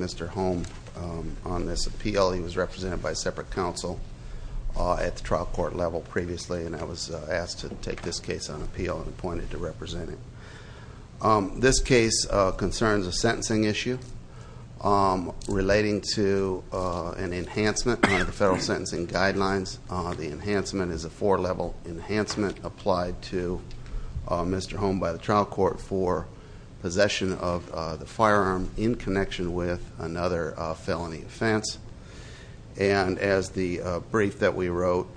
Mr. Holm on this appeal. He was represented by a separate counsel at the trial court level previously and I was asked to take this case on appeal and appointed to represent it. This case concerns a sentencing issue relating to an enhancement on the federal sentencing guidelines. The enhancement is a four-level enhancement applied to Mr. Holm by the trial court for possession of the firearm in connection with another felony offense. And as the brief that we wrote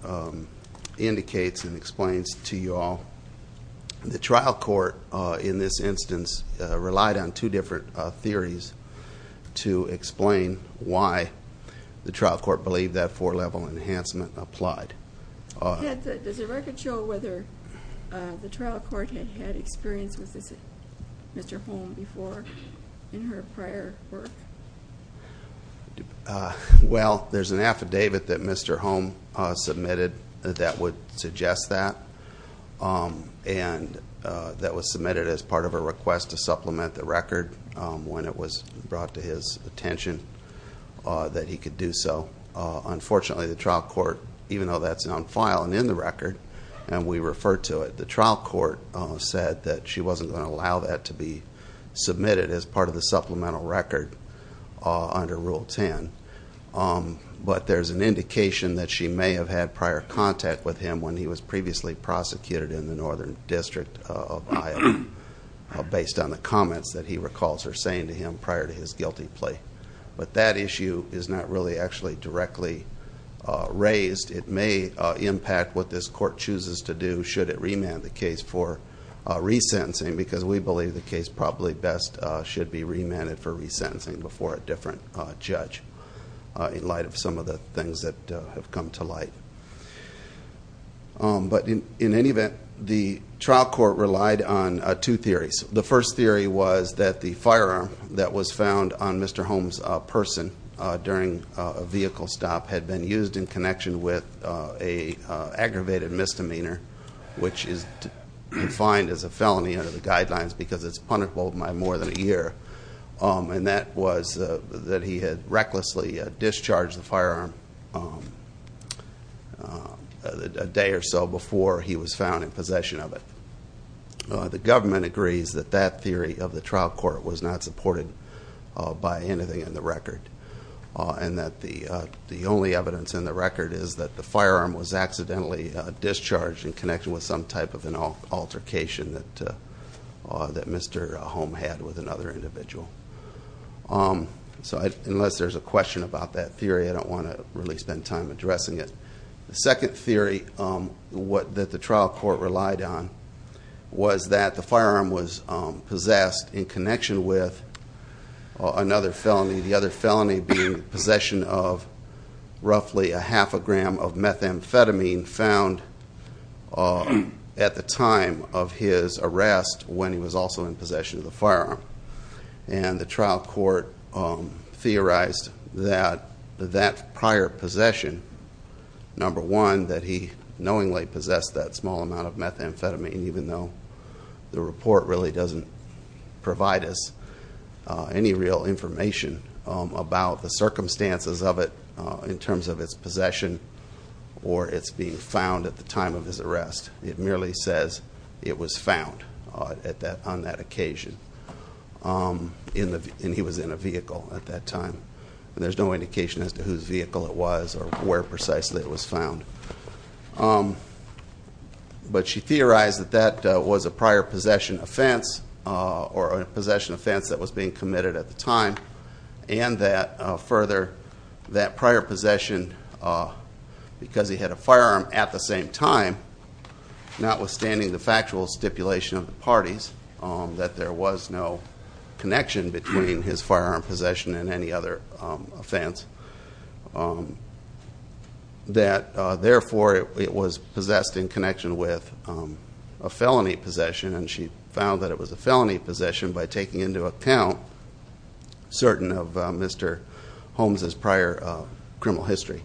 indicates and explains to you all, the trial court in this instance relied on two different theories to explain why the trial court believed that four-level enhancement applied. Does the record show whether the trial court had had experience with Mr. Holm before in her prior work? Well, there's an affidavit that Mr. Holm submitted that would suggest that. And that was submitted as part of a request to supplement the record when it was brought to his attention that he could do so. Unfortunately, the trial court, even though that's on file and in the record and we refer to it, the trial court said that she wasn't going to allow that to be submitted as part of the supplemental record under Rule 10. But there's an indication that she may have had prior contact with him when he was previously prosecuted in the Northern District of Iowa based on the comments that he recalls her saying to him prior to his guilty plea. But that issue is not really actually directly raised. It may impact what this court chooses to do should it remand the case for resentencing because we believe the case probably best should be remanded for resentencing before a different judge in light of some of the things that have come to light. But in any event, the trial court relied on two theories. The first theory was that the firearm that was found on Mr. Holm's person during a vehicle stop had been used in connection with an aggravated misdemeanor, which is defined as a felony under the guidelines because it's punishable by more than a year. And that was that he had recklessly discharged the firearm a day or so before he was found in possession of it. The government agrees that that theory of the trial court was not supported by anything in the record and that the only evidence in the record is that the firearm was accidentally discharged in connection with some type of an altercation that Mr. Holm had with another individual. So unless there's a question about that theory, I don't want to really spend time addressing it. The second theory that the trial court relied on was that the firearm was possessed in connection with another felony, the other felony being possession of roughly a half a gram of methamphetamine found at the time of his arrest when he was also in possession of the firearm. And the trial court theorized that that prior possession, number one, that he knowingly possessed that small amount of methamphetamine, even though the report really doesn't provide us any real information about the circumstances of it in terms of its possession or its being found at the time of his arrest. It merely says it was found on that occasion, and he was in a vehicle at that time. And there's no indication as to whose vehicle it was or where precisely it was found. But she theorized that that was a prior possession offense or a possession offense that was being committed at the time, and that further, that prior possession, because he had a firearm at the same time, notwithstanding the factual stipulation of the parties, that there was no connection between his firearm possession and any other offense, that, therefore, it was possessed in connection with a felony possession. And she found that it was a felony possession by taking into account certain of Mr. Holmes' prior criminal history,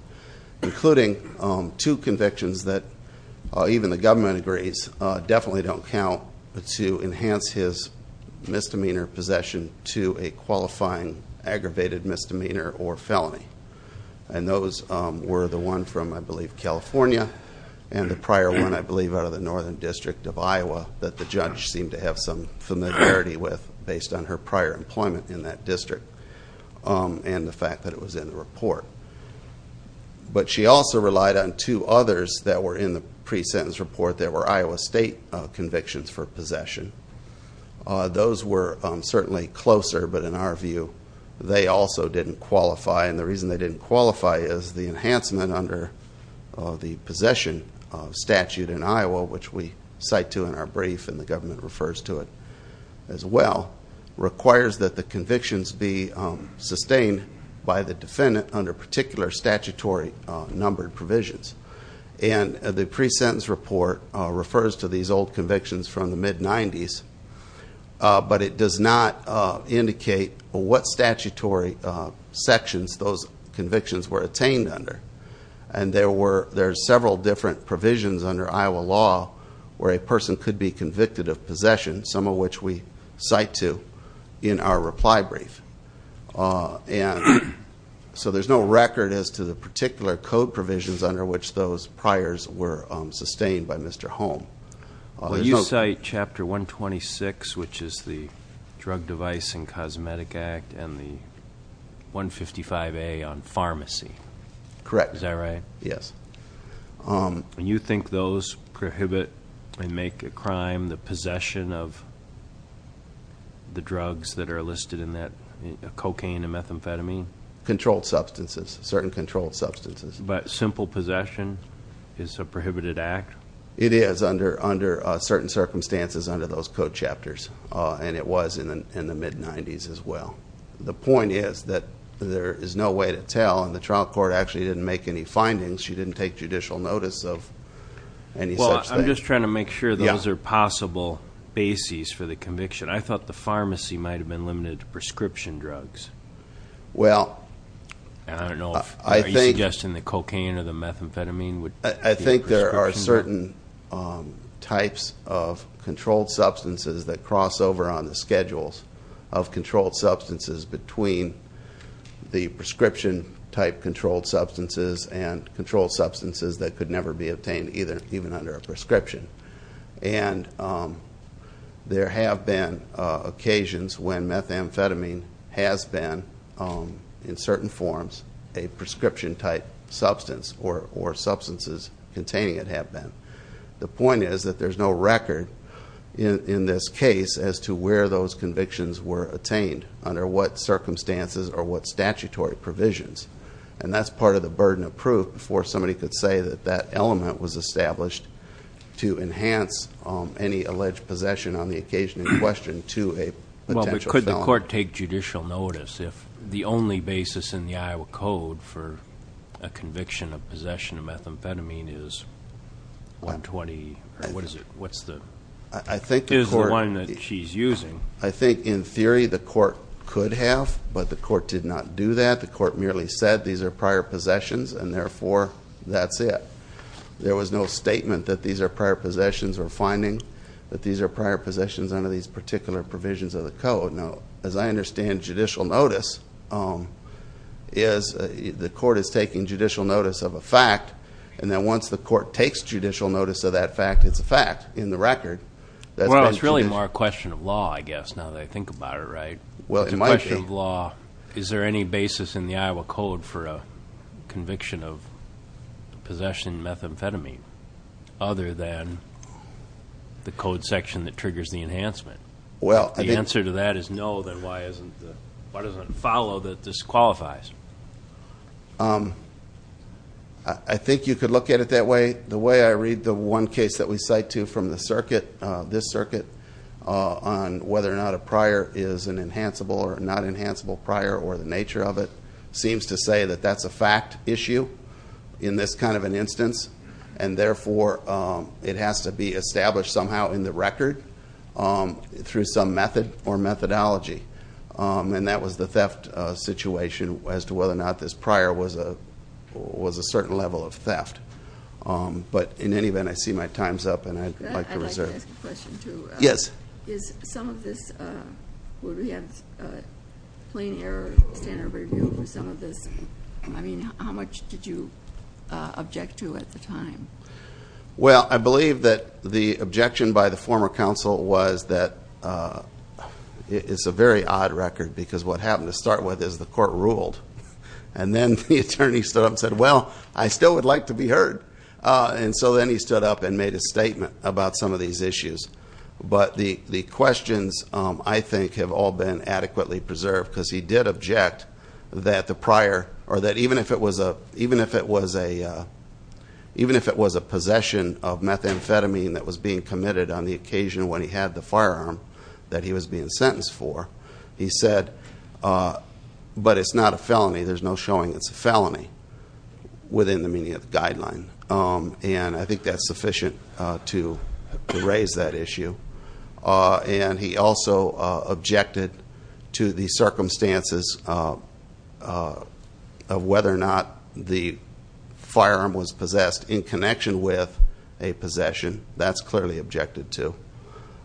including two convictions that even the government agrees definitely don't count to enhance his misdemeanor possession to a qualifying aggravated misdemeanor or felony. And those were the one from, I believe, California, and the prior one, I believe, out of the Northern District of Iowa that the judge seemed to have some familiarity with based on her prior employment in that district and the fact that it was in the report. But she also relied on two others that were in the pre-sentence report. There were Iowa State convictions for possession. Those were certainly closer, but in our view, they also didn't qualify. And the reason they didn't qualify is the enhancement under the possession statute in Iowa, which we cite to in our brief and the government refers to it as well, requires that the convictions be sustained by the defendant under particular statutory numbered provisions. And the pre-sentence report refers to these old convictions from the mid-'90s, but it does not indicate what statutory sections those convictions were attained under. And there are several different provisions under Iowa law where a person could be convicted of possession, some of which we cite to in our reply brief. And so there's no record as to the particular code provisions under which those priors were sustained by Mr. Holm. Well, you cite Chapter 126, which is the Drug, Device, and Cosmetic Act, and the 155A on pharmacy. Correct. Is that right? Yes. And you think those prohibit and make a crime the possession of the drugs that are listed in that cocaine and methamphetamine? Controlled substances, certain controlled substances. But simple possession is a prohibited act? It is under certain circumstances under those code chapters, and it was in the mid-'90s as well. The point is that there is no way to tell, and the trial court actually didn't make any findings. She didn't take judicial notice of any such thing. Well, I'm just trying to make sure those are possible bases for the conviction. I thought the pharmacy might have been limited to prescription drugs. Well, I think there are certain types of controlled substances that cross over on the schedules of controlled substances between the prescription-type controlled substances and controlled substances that could never be obtained even under a prescription. And there have been occasions when methamphetamine has been, in certain forms, a prescription-type substance, or substances containing it have been. The point is that there's no record in this case as to where those convictions were attained, under what circumstances or what statutory provisions. And that's part of the burden of proof before somebody could say that that element was established to enhance any alleged possession on the occasion in question to a potential felon. Does the court take judicial notice if the only basis in the Iowa Code for a conviction of possession of methamphetamine is 120, or what is it, what's the, is the one that she's using? I think, in theory, the court could have, but the court did not do that. The court merely said these are prior possessions, and therefore, that's it. There was no statement that these are prior possessions or finding that these are prior possessions under these particular provisions of the Code. Now, as I understand, judicial notice is, the court is taking judicial notice of a fact, and then once the court takes judicial notice of that fact, it's a fact in the record. Well, it's really more a question of law, I guess, now that I think about it, right? Well, it might be. A question of law, is there any basis in the Iowa Code for a conviction of possession of methamphetamine, other than the code section that triggers the enhancement? Well, I think. If the answer to that is no, then why doesn't it follow that this qualifies? I think you could look at it that way. The way I read the one case that we cite to from the circuit, this circuit, on whether or not a prior is an enhanceable or not enhanceable prior or the nature of it, seems to say that that's a fact issue in this kind of an instance, and therefore it has to be established somehow in the record through some method or methodology. And that was the theft situation as to whether or not this prior was a certain level of theft. But in any event, I see my time's up, and I'd like to reserve. I'd like to ask a question, too. Yes. Is some of this, would we have plain error standard review for some of this? I mean, how much did you object to at the time? Well, I believe that the objection by the former counsel was that it's a very odd record because what happened to start with is the court ruled. And then the attorney stood up and said, well, I still would like to be heard. And so then he stood up and made a statement about some of these issues. But the questions, I think, have all been adequately preserved because he did object that the prior, or that even if it was a possession of methamphetamine that was being committed on the occasion when he had the firearm that he was being sentenced for, he said, but it's not a felony. There's no showing it's a felony within the meaning of the guideline. And I think that's sufficient to raise that issue. And he also objected to the circumstances of whether or not the firearm was possessed in connection with a possession. That's clearly objected to.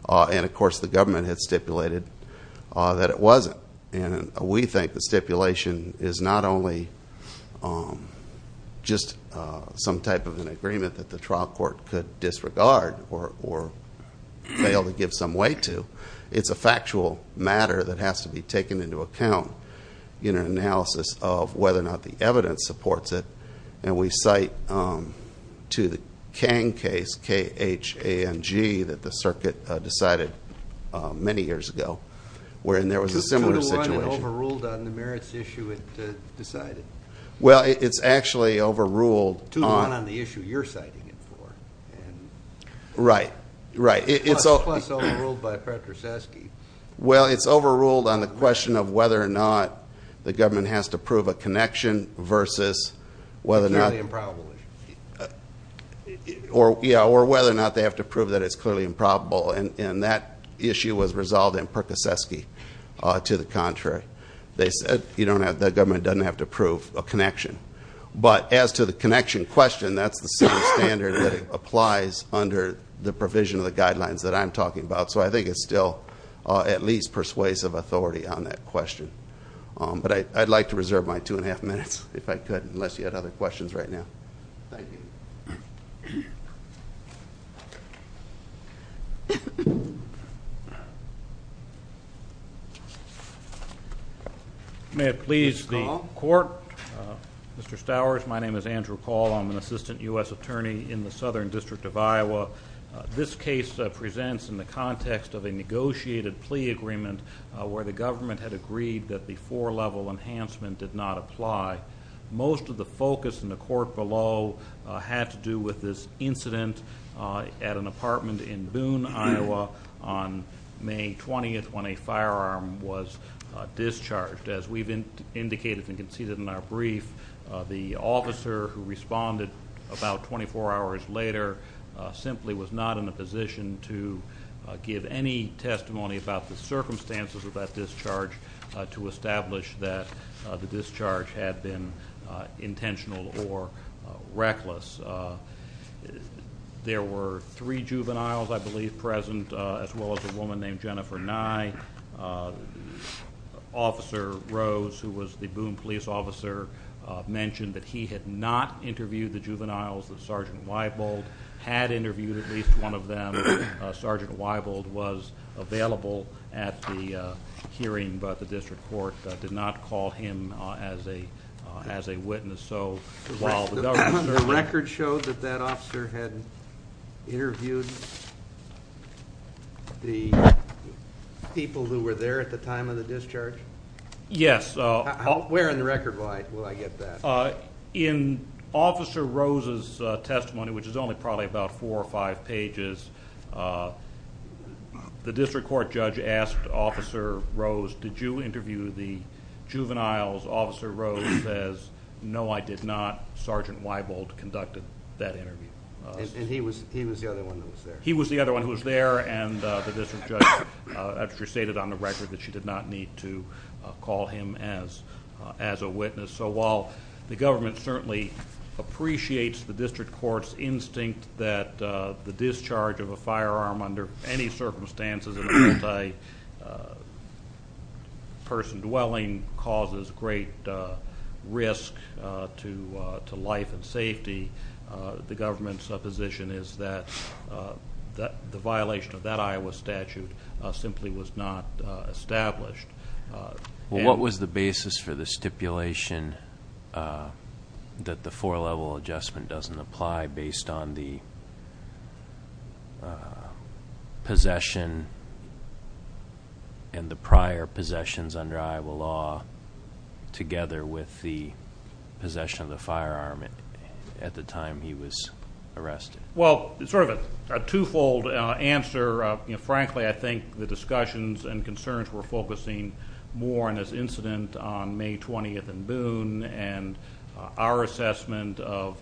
And, of course, the government had stipulated that it wasn't. And we think the stipulation is not only just some type of an agreement that the trial court could disregard or fail to give some weight to, it's a factual matter that has to be taken into account in an analysis of whether or not the evidence supports it. And we cite to the Kang case, K-H-A-N-G, that the circuit decided many years ago, wherein there was a similar situation. Two to one overruled on the merits issue it decided. Well, it's actually overruled on the issue you're citing it for. Right, right. Plus overruled by Pertusaski. Well, it's overruled on the question of whether or not the government has to prove a connection versus whether or not. It's a clearly improbable issue. Yeah, or whether or not they have to prove that it's clearly improbable. And that issue was resolved in Pertusaski to the contrary. They said the government doesn't have to prove a connection. But as to the connection question, that's the same standard that applies under the provision of the guidelines that I'm talking about. So I think it's still at least persuasive authority on that question. But I'd like to reserve my two and a half minutes if I could, unless you had other questions right now. Thank you. May it please the court. Mr. Stowers, my name is Andrew Call. I'm an assistant U.S. attorney in the Southern District of Iowa. This case presents in the context of a negotiated plea agreement where the government had agreed that the four-level enhancement did not apply. Most of the focus in the court below had to do with this incident at an apartment in Boone, Iowa, on May 20th when a firearm was discharged. As we've indicated and conceded in our brief, the officer who responded about 24 hours later simply was not in a position to give any testimony about the circumstances of that discharge to establish that the discharge had been intentional or reckless. There were three juveniles, I believe, present, as well as a woman named Jennifer Nye. Officer Rose, who was the Boone police officer, mentioned that he had not interviewed the juveniles that Sergeant Weibold had interviewed, at least one of them. Sergeant Weibold was available at the hearing, but the district court did not call him as a witness. So while the record showed that that officer had interviewed the people who were there at the time of the discharge? Yes. Where in the record will I get that? In Officer Rose's testimony, which is only probably about four or five pages, the district court judge asked Officer Rose, did you interview the juveniles? Officer Rose says, no, I did not. Sergeant Weibold conducted that interview. And he was the other one who was there? He was the other one who was there, and the district judge actually stated on the record that she did not need to call him as a witness. So while the government certainly appreciates the district court's instinct that the discharge of a firearm under any circumstances in a multi-person dwelling causes great risk to life and safety, the government's position is that the violation of that Iowa statute simply was not established. What was the basis for the stipulation that the four-level adjustment doesn't apply based on the possession and the prior possessions under Iowa law together with the possession of the firearm at the time he was arrested? Well, sort of a two-fold answer. Frankly, I think the discussions and concerns were focusing more on this incident on May 20th in Boone and our assessment of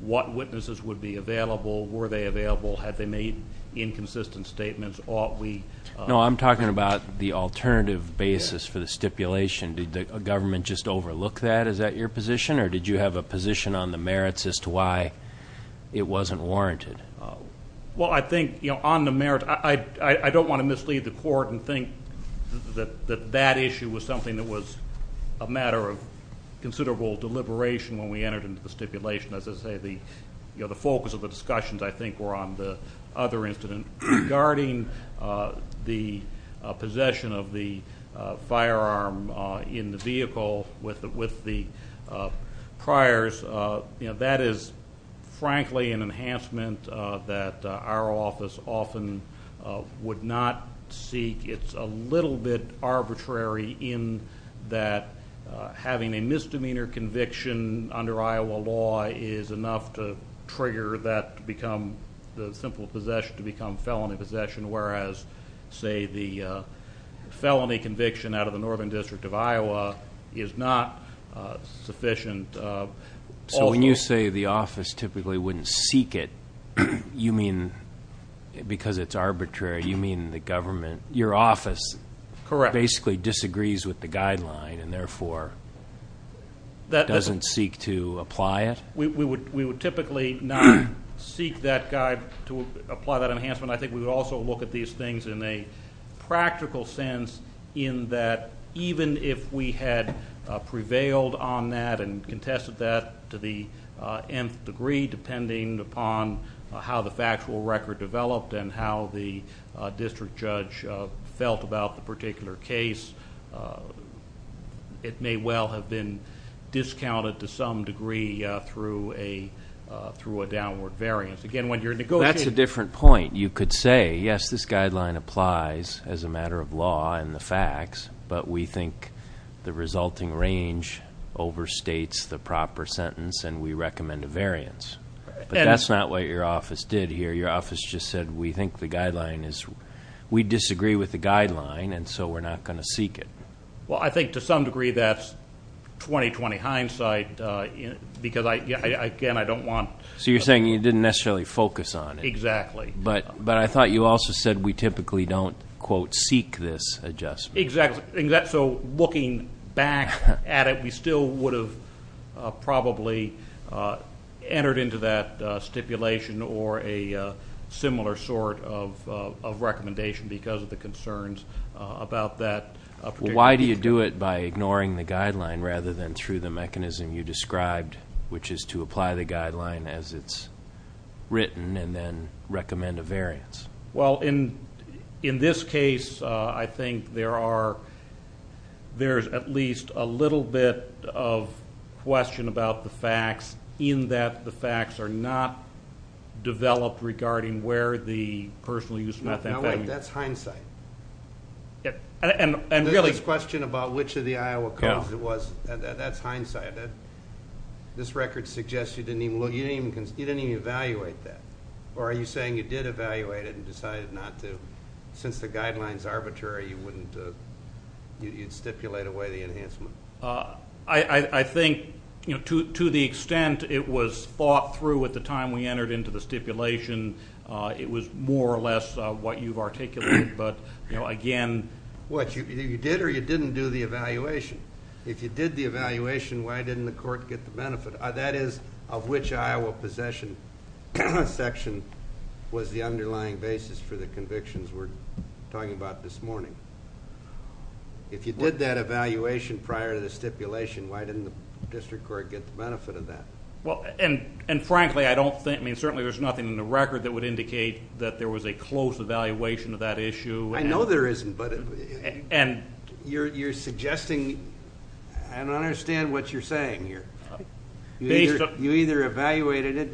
what witnesses would be available, were they available, had they made inconsistent statements, ought we? No, I'm talking about the alternative basis for the stipulation. Did the government just overlook that? Is that your position, or did you have a position on the merits as to why it wasn't warranted? Well, I think, you know, on the merits, I don't want to mislead the court and think that that issue was something that was a matter of considerable deliberation when we entered into the stipulation. As I say, the focus of the discussions, I think, were on the other incident. Regarding the possession of the firearm in the vehicle with the priors, you know, that is, frankly, an enhancement that our office often would not seek. It's a little bit arbitrary in that having a misdemeanor conviction under Iowa law is enough to trigger that to become the simple possession to become felony possession, whereas, say, the felony conviction out of the Northern District of Iowa is not sufficient. So when you say the office typically wouldn't seek it, you mean because it's arbitrary, you mean the government, your office basically disagrees with the guideline and, therefore, doesn't seek to apply it? We would typically not seek that guide to apply that enhancement. I think we would also look at these things in a practical sense in that even if we had prevailed on that and contested that to the nth degree, depending upon how the factual record developed and how the district judge felt about the particular case, it may well have been discounted to some degree through a downward variance. Again, when you're negotiating ---- That's a different point. You could say, yes, this guideline applies as a matter of law and the facts, but we think the resulting range overstates the proper sentence, and we recommend a variance. But that's not what your office did here. Your office just said we think the guideline is ---- we disagree with the guideline, and so we're not going to seek it. Well, I think to some degree that's 20-20 hindsight because, again, I don't want ---- So you're saying you didn't necessarily focus on it. Exactly. But I thought you also said we typically don't, quote, seek this adjustment. Exactly. So looking back at it, we still would have probably entered into that stipulation or a similar sort of recommendation because of the concerns about that particular case. Well, why do you do it by ignoring the guideline rather than through the mechanism you described, which is to apply the guideline as it's written and then recommend a variance? Well, in this case, I think there's at least a little bit of question about the facts in that the facts are not developed regarding where the personal use of methamphetamine ---- Now, wait, that's hindsight. And really ---- There's this question about which of the Iowa codes it was. That's hindsight. This record suggests you didn't even evaluate that. Or are you saying you did evaluate it and decided not to? Since the guideline is arbitrary, you wouldn't ---- you'd stipulate away the enhancement. I think, you know, to the extent it was thought through at the time we entered into the stipulation, it was more or less what you've articulated. But, you know, again ---- What, you did or you didn't do the evaluation? If you did the evaluation, why didn't the court get the benefit? That is, of which Iowa possession section was the underlying basis for the convictions we're talking about this morning. If you did that evaluation prior to the stipulation, why didn't the district court get the benefit of that? Well, and frankly, I don't think ---- I mean, certainly there's nothing in the record that would indicate that there was a close evaluation of that issue. I know there isn't, but you're suggesting ---- I don't understand what you're saying here. You either evaluated it.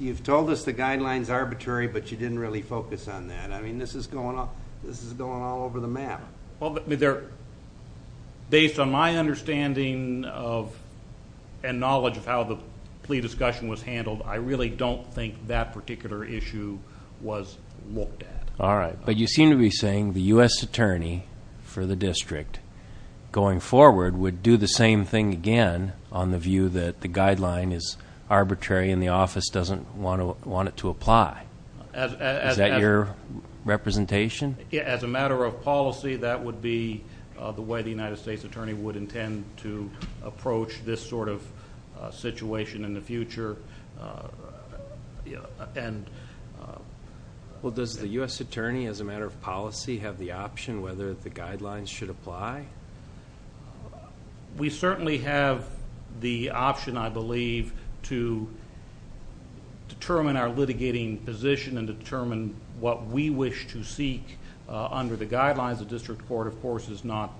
You've told us the guideline is arbitrary, but you didn't really focus on that. I mean, this is going all over the map. Based on my understanding and knowledge of how the plea discussion was handled, I really don't think that particular issue was looked at. All right, but you seem to be saying the U.S. attorney for the district going forward would do the same thing again on the view that the guideline is arbitrary and the office doesn't want it to apply. Is that your representation? As a matter of policy, that would be the way the United States attorney would intend to approach this sort of situation in the future. Well, does the U.S. attorney, as a matter of policy, have the option whether the guidelines should apply? We certainly have the option, I believe, to determine our litigating position and determine what we wish to seek under the guidelines. The district court, of course, is not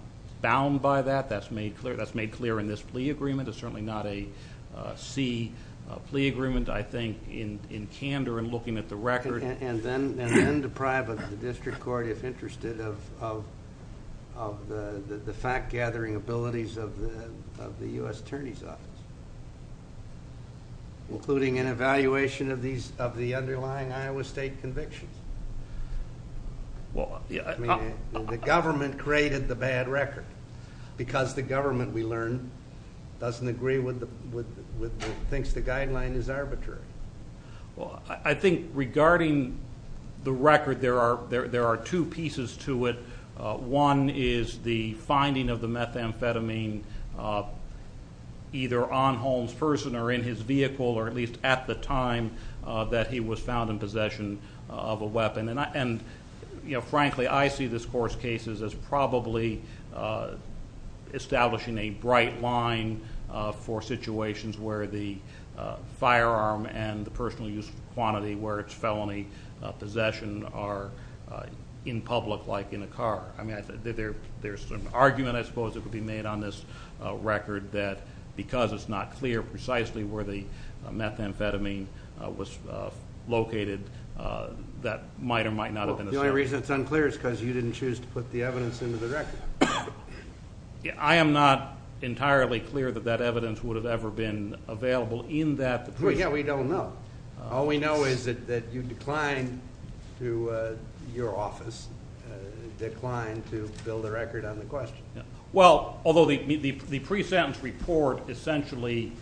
bound by that. That's made clear in this plea agreement. It's certainly not a C plea agreement, I think, in candor and looking at the record. And then deprive the district court, if interested, of the fact-gathering abilities of the U.S. attorney's office, including an evaluation of the underlying Iowa state convictions. The government created the bad record because the government, we learned, doesn't agree with the things the guideline is arbitrary. I think regarding the record, there are two pieces to it. One is the finding of the methamphetamine either on Holmes' person or in his vehicle or at least at the time that he was found in possession of a weapon. And frankly, I see this court's cases as probably establishing a bright line for situations where the firearm and the personal use quantity where it's felony possession are in public, like in a car. There's an argument, I suppose, that could be made on this record that because it's not clear precisely where the methamphetamine was located, that might or might not have been the same. Well, the only reason it's unclear is because you didn't choose to put the evidence into the record. I am not entirely clear that that evidence would have ever been available in that plea agreement. Yeah, we don't know. All we know is that you declined to your office, declined to build a record on the question. Well, although the pre-sentence report essentially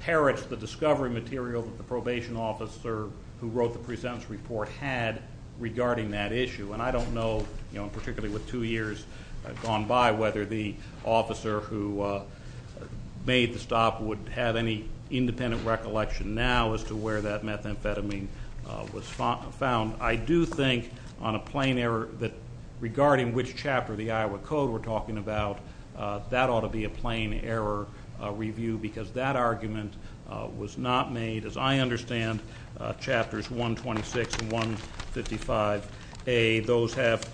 perished the discovery material that the probation officer who wrote the pre-sentence report had regarding that issue. And I don't know, particularly with two years gone by, whether the officer who made the stop would have any independent recollection now as to where that methamphetamine was found. I do think on a plain error that regarding which chapter of the Iowa Code we're talking about, that ought to be a plain error review because that argument was not made. As I understand, Chapters 126 and 155A, those have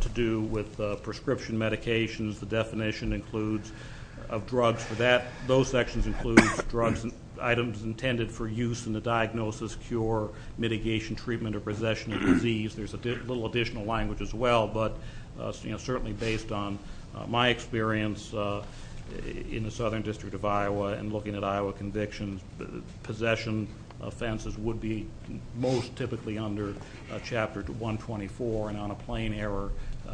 to do with prescription medications. The definition includes of drugs for that. Those sections include drugs and items intended for use in the diagnosis, cure, mitigation, treatment, or possession of disease. There's a little additional language as well, but certainly based on my experience in the Southern District of Iowa and looking at Iowa convictions, possession offenses would be most typically under Chapter 124. And on a plain error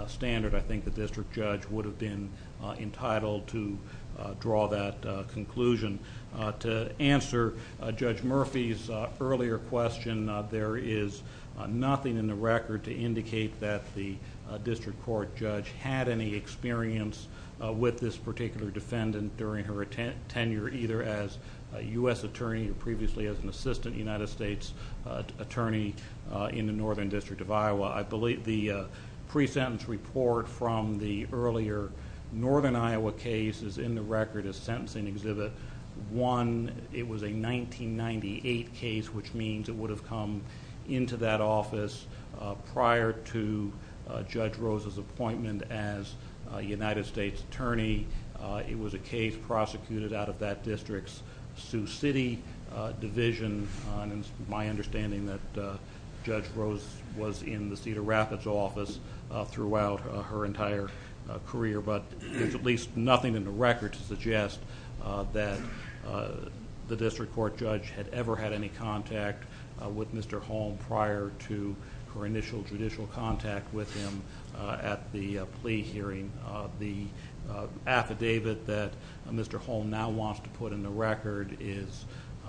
standard, I think the district judge would have been entitled to draw that conclusion. To answer Judge Murphy's earlier question, there is nothing in the record to indicate that the district court judge had any experience with this particular defendant during her tenure either as a U.S. attorney or previously as an assistant United States attorney in the Northern District of Iowa. I believe the pre-sentence report from the earlier Northern Iowa case is in the record as Sentencing Exhibit 1. It was a 1998 case, which means it would have come into that office prior to Judge Rose's appointment as United States attorney. It was a case prosecuted out of that district's Sioux City division. It's my understanding that Judge Rose was in the Cedar Rapids office throughout her entire career, but there's at least nothing in the record to suggest that the district court judge had ever had any contact with Mr. Holm prior to her initial judicial contact with him at the plea hearing. The affidavit that Mr. Holm now wants to put in the record is,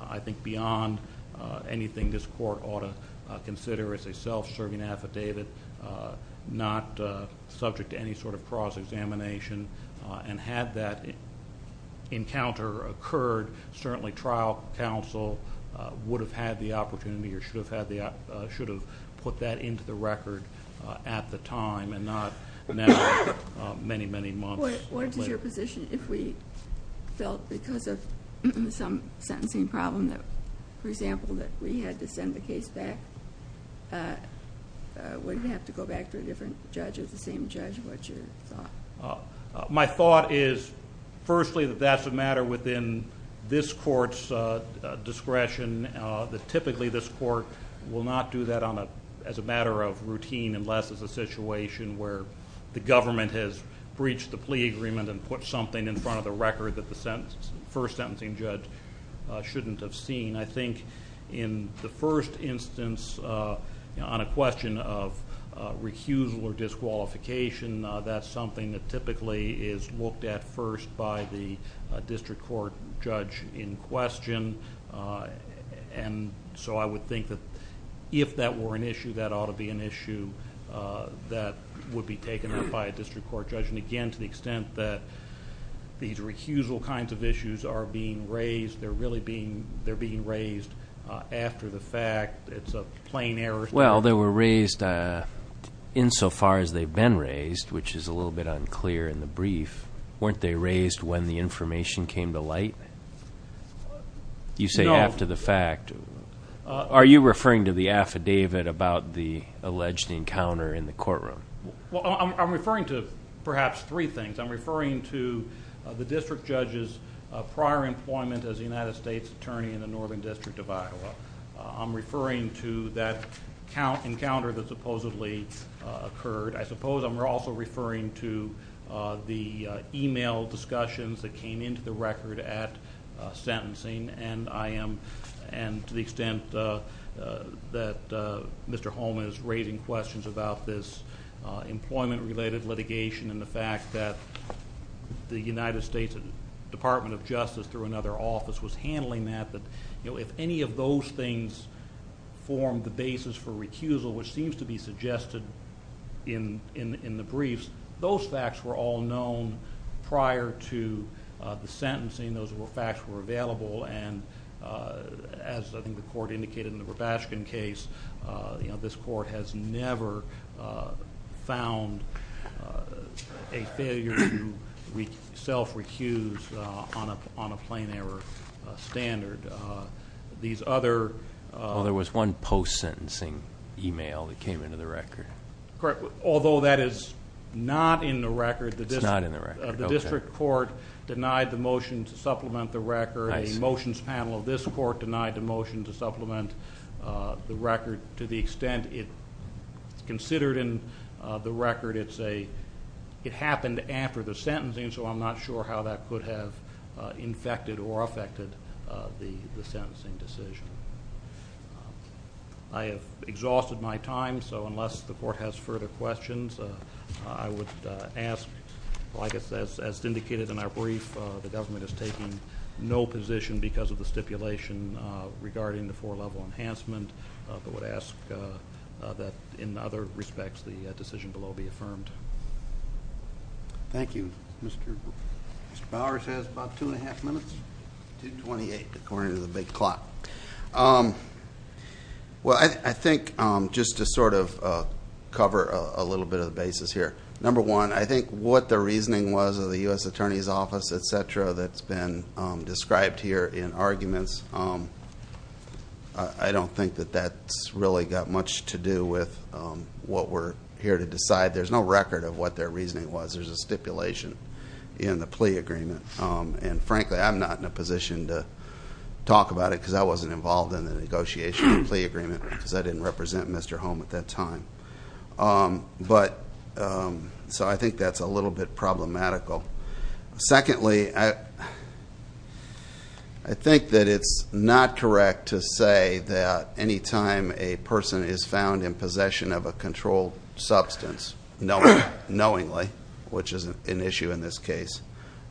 I think, beyond anything this court ought to consider. It's a self-serving affidavit, not subject to any sort of cross-examination. And had that encounter occurred, certainly trial counsel would have had the opportunity or should have put that into the record at the time and not now many, many months later. What is your position if we felt because of some sentencing problem, for example, that we had to send the case back? Would it have to go back to a different judge or the same judge? What's your thought? My thought is, firstly, that that's a matter within this court's discretion, that typically this court will not do that as a matter of routine unless it's a situation where the government has breached the plea agreement and put something in front of the record that the first sentencing judge shouldn't have seen. I think in the first instance on a question of recusal or disqualification, that's something that typically is looked at first by the district court judge in question. And so I would think that if that were an issue, that ought to be an issue that would be taken up by a district court judge. And again, to the extent that these recusal kinds of issues are being raised, they're really being raised after the fact. It's a plain error. Well, they were raised insofar as they've been raised, which is a little bit unclear in the brief. Weren't they raised when the information came to light? You say after the fact. Are you referring to the affidavit about the alleged encounter in the courtroom? Well, I'm referring to perhaps three things. I'm referring to the district judge's prior employment as a United States attorney in the Northern District of Iowa. I'm referring to that encounter that supposedly occurred. I suppose I'm also referring to the e-mail discussions that came into the record at sentencing, and to the extent that Mr. Holman is raising questions about this employment-related litigation and the fact that the United States Department of Justice through another office was handling that, that if any of those things formed the basis for recusal, which seems to be suggested in the briefs, those facts were all known prior to the sentencing. Those facts were available, and as I think the court indicated in the Robashkin case, this court has never found a failure to self-recuse on a plain error standard. These other ---- Well, there was one post-sentencing e-mail that came into the record. Correct. Although that is not in the record. It's not in the record. The district court denied the motion to supplement the record. The motions panel of this court denied the motion to supplement the record to the extent it's considered in the record. It's a ---- it happened after the sentencing, so I'm not sure how that could have infected or affected the sentencing decision. I have exhausted my time, so unless the court has further questions, I would ask, well, I guess as indicated in our brief, the government is taking no position because of the stipulation regarding the four-level enhancement, but would ask that in other respects the decision below be affirmed. Thank you. Mr. Bowers has about two and a half minutes. Two twenty-eight, according to the big clock. Well, I think just to sort of cover a little bit of the basis here, number one, I think what the reasoning was of the U.S. Attorney's Office, et cetera, that's been described here in arguments, I don't think that that's really got much to do with what we're here to decide. There's no record of what their reasoning was. There's a stipulation in the plea agreement. And frankly, I'm not in a position to talk about it because I wasn't involved in the negotiation of the plea agreement because I didn't represent Mr. Holm at that time. So I think that's a little bit problematical. Secondly, I think that it's not correct to say that anytime a person is found in possession of a controlled substance, knowingly, which is an issue in this case,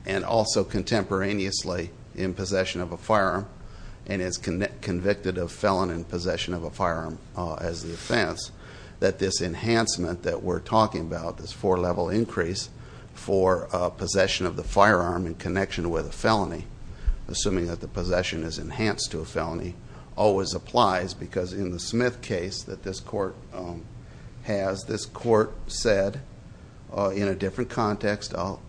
and also contemporaneously in possession of a firearm and is convicted of felon in possession of a firearm as the offense, that this enhancement that we're talking about, this four-level increase for possession of the firearm in connection with a felony, assuming that the possession is enhanced to a felony, always applies because in the Smith case that this court has, as this court said in a different context, I'll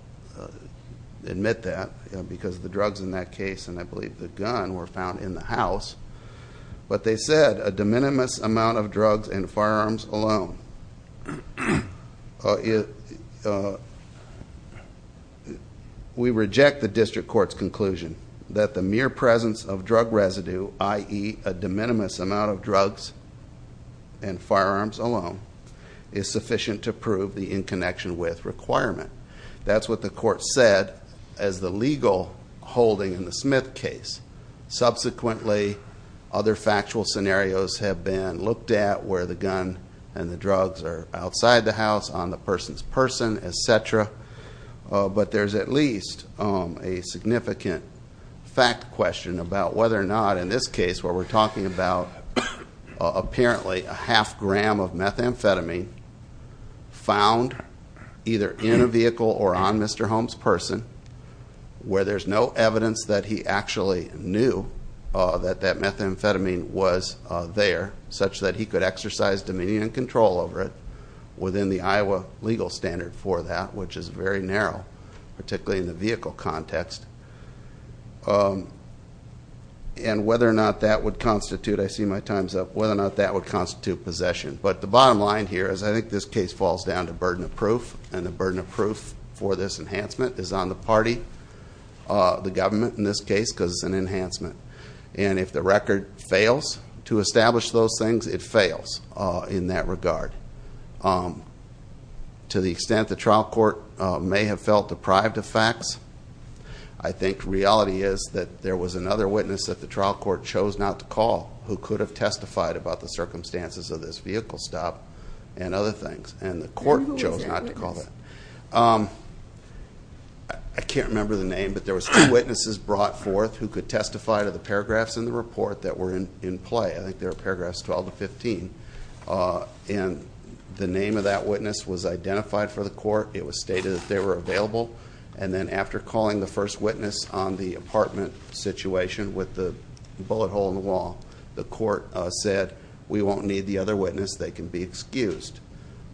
admit that, because the drugs in that case and I believe the gun were found in the house, but they said a de minimis amount of drugs and firearms alone. We reject the district court's conclusion that the mere presence of drug residue, i.e. a de minimis amount of drugs and firearms alone, is sufficient to prove the in connection with requirement. That's what the court said as the legal holding in the Smith case. Subsequently, other factual scenarios have been looked at where the gun and the drugs are outside the house, on the person's person, et cetera. But there's at least a significant fact question about whether or not, in this case where we're talking about apparently a half gram of methamphetamine, found either in a vehicle or on Mr. Holm's person, where there's no evidence that he actually knew that that methamphetamine was there, such that he could exercise dominion and control over it within the Iowa legal standard for that, which is very narrow, particularly in the vehicle context. And whether or not that would constitute, I see my time's up, whether or not that would constitute possession. But the bottom line here is I think this case falls down to burden of proof, and the burden of proof for this enhancement is on the party, the government in this case, because it's an enhancement. And if the record fails to establish those things, it fails in that regard. To the extent the trial court may have felt deprived of facts, I think reality is that there was another witness that the trial court chose not to call who could have testified about the circumstances of this vehicle stop and other things, and the court chose not to call that. I can't remember the name, but there was two witnesses brought forth who could testify to the paragraphs in the report that were in play. I think they were paragraphs 12 to 15. And the name of that witness was identified for the court. It was stated that they were available. And then after calling the first witness on the apartment situation with the bullet hole in the wall, the court said, We won't need the other witness. They can be excused.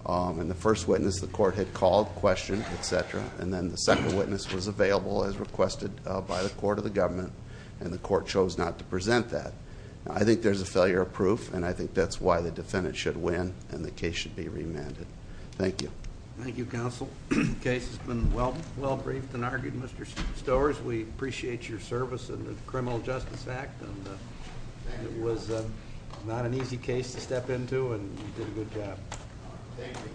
And the first witness the court had called, questioned, et cetera, and then the second witness was available as requested by the court or the government, and the court chose not to present that. I think there's a failure of proof, and I think that's why the defendant should win and the case should be remanded. Thank you. Thank you, Counsel. The case has been well briefed and argued. Mr. Stowers, we appreciate your service in the Criminal Justice Act. It was not an easy case to step into, and you did a good job. Thank you.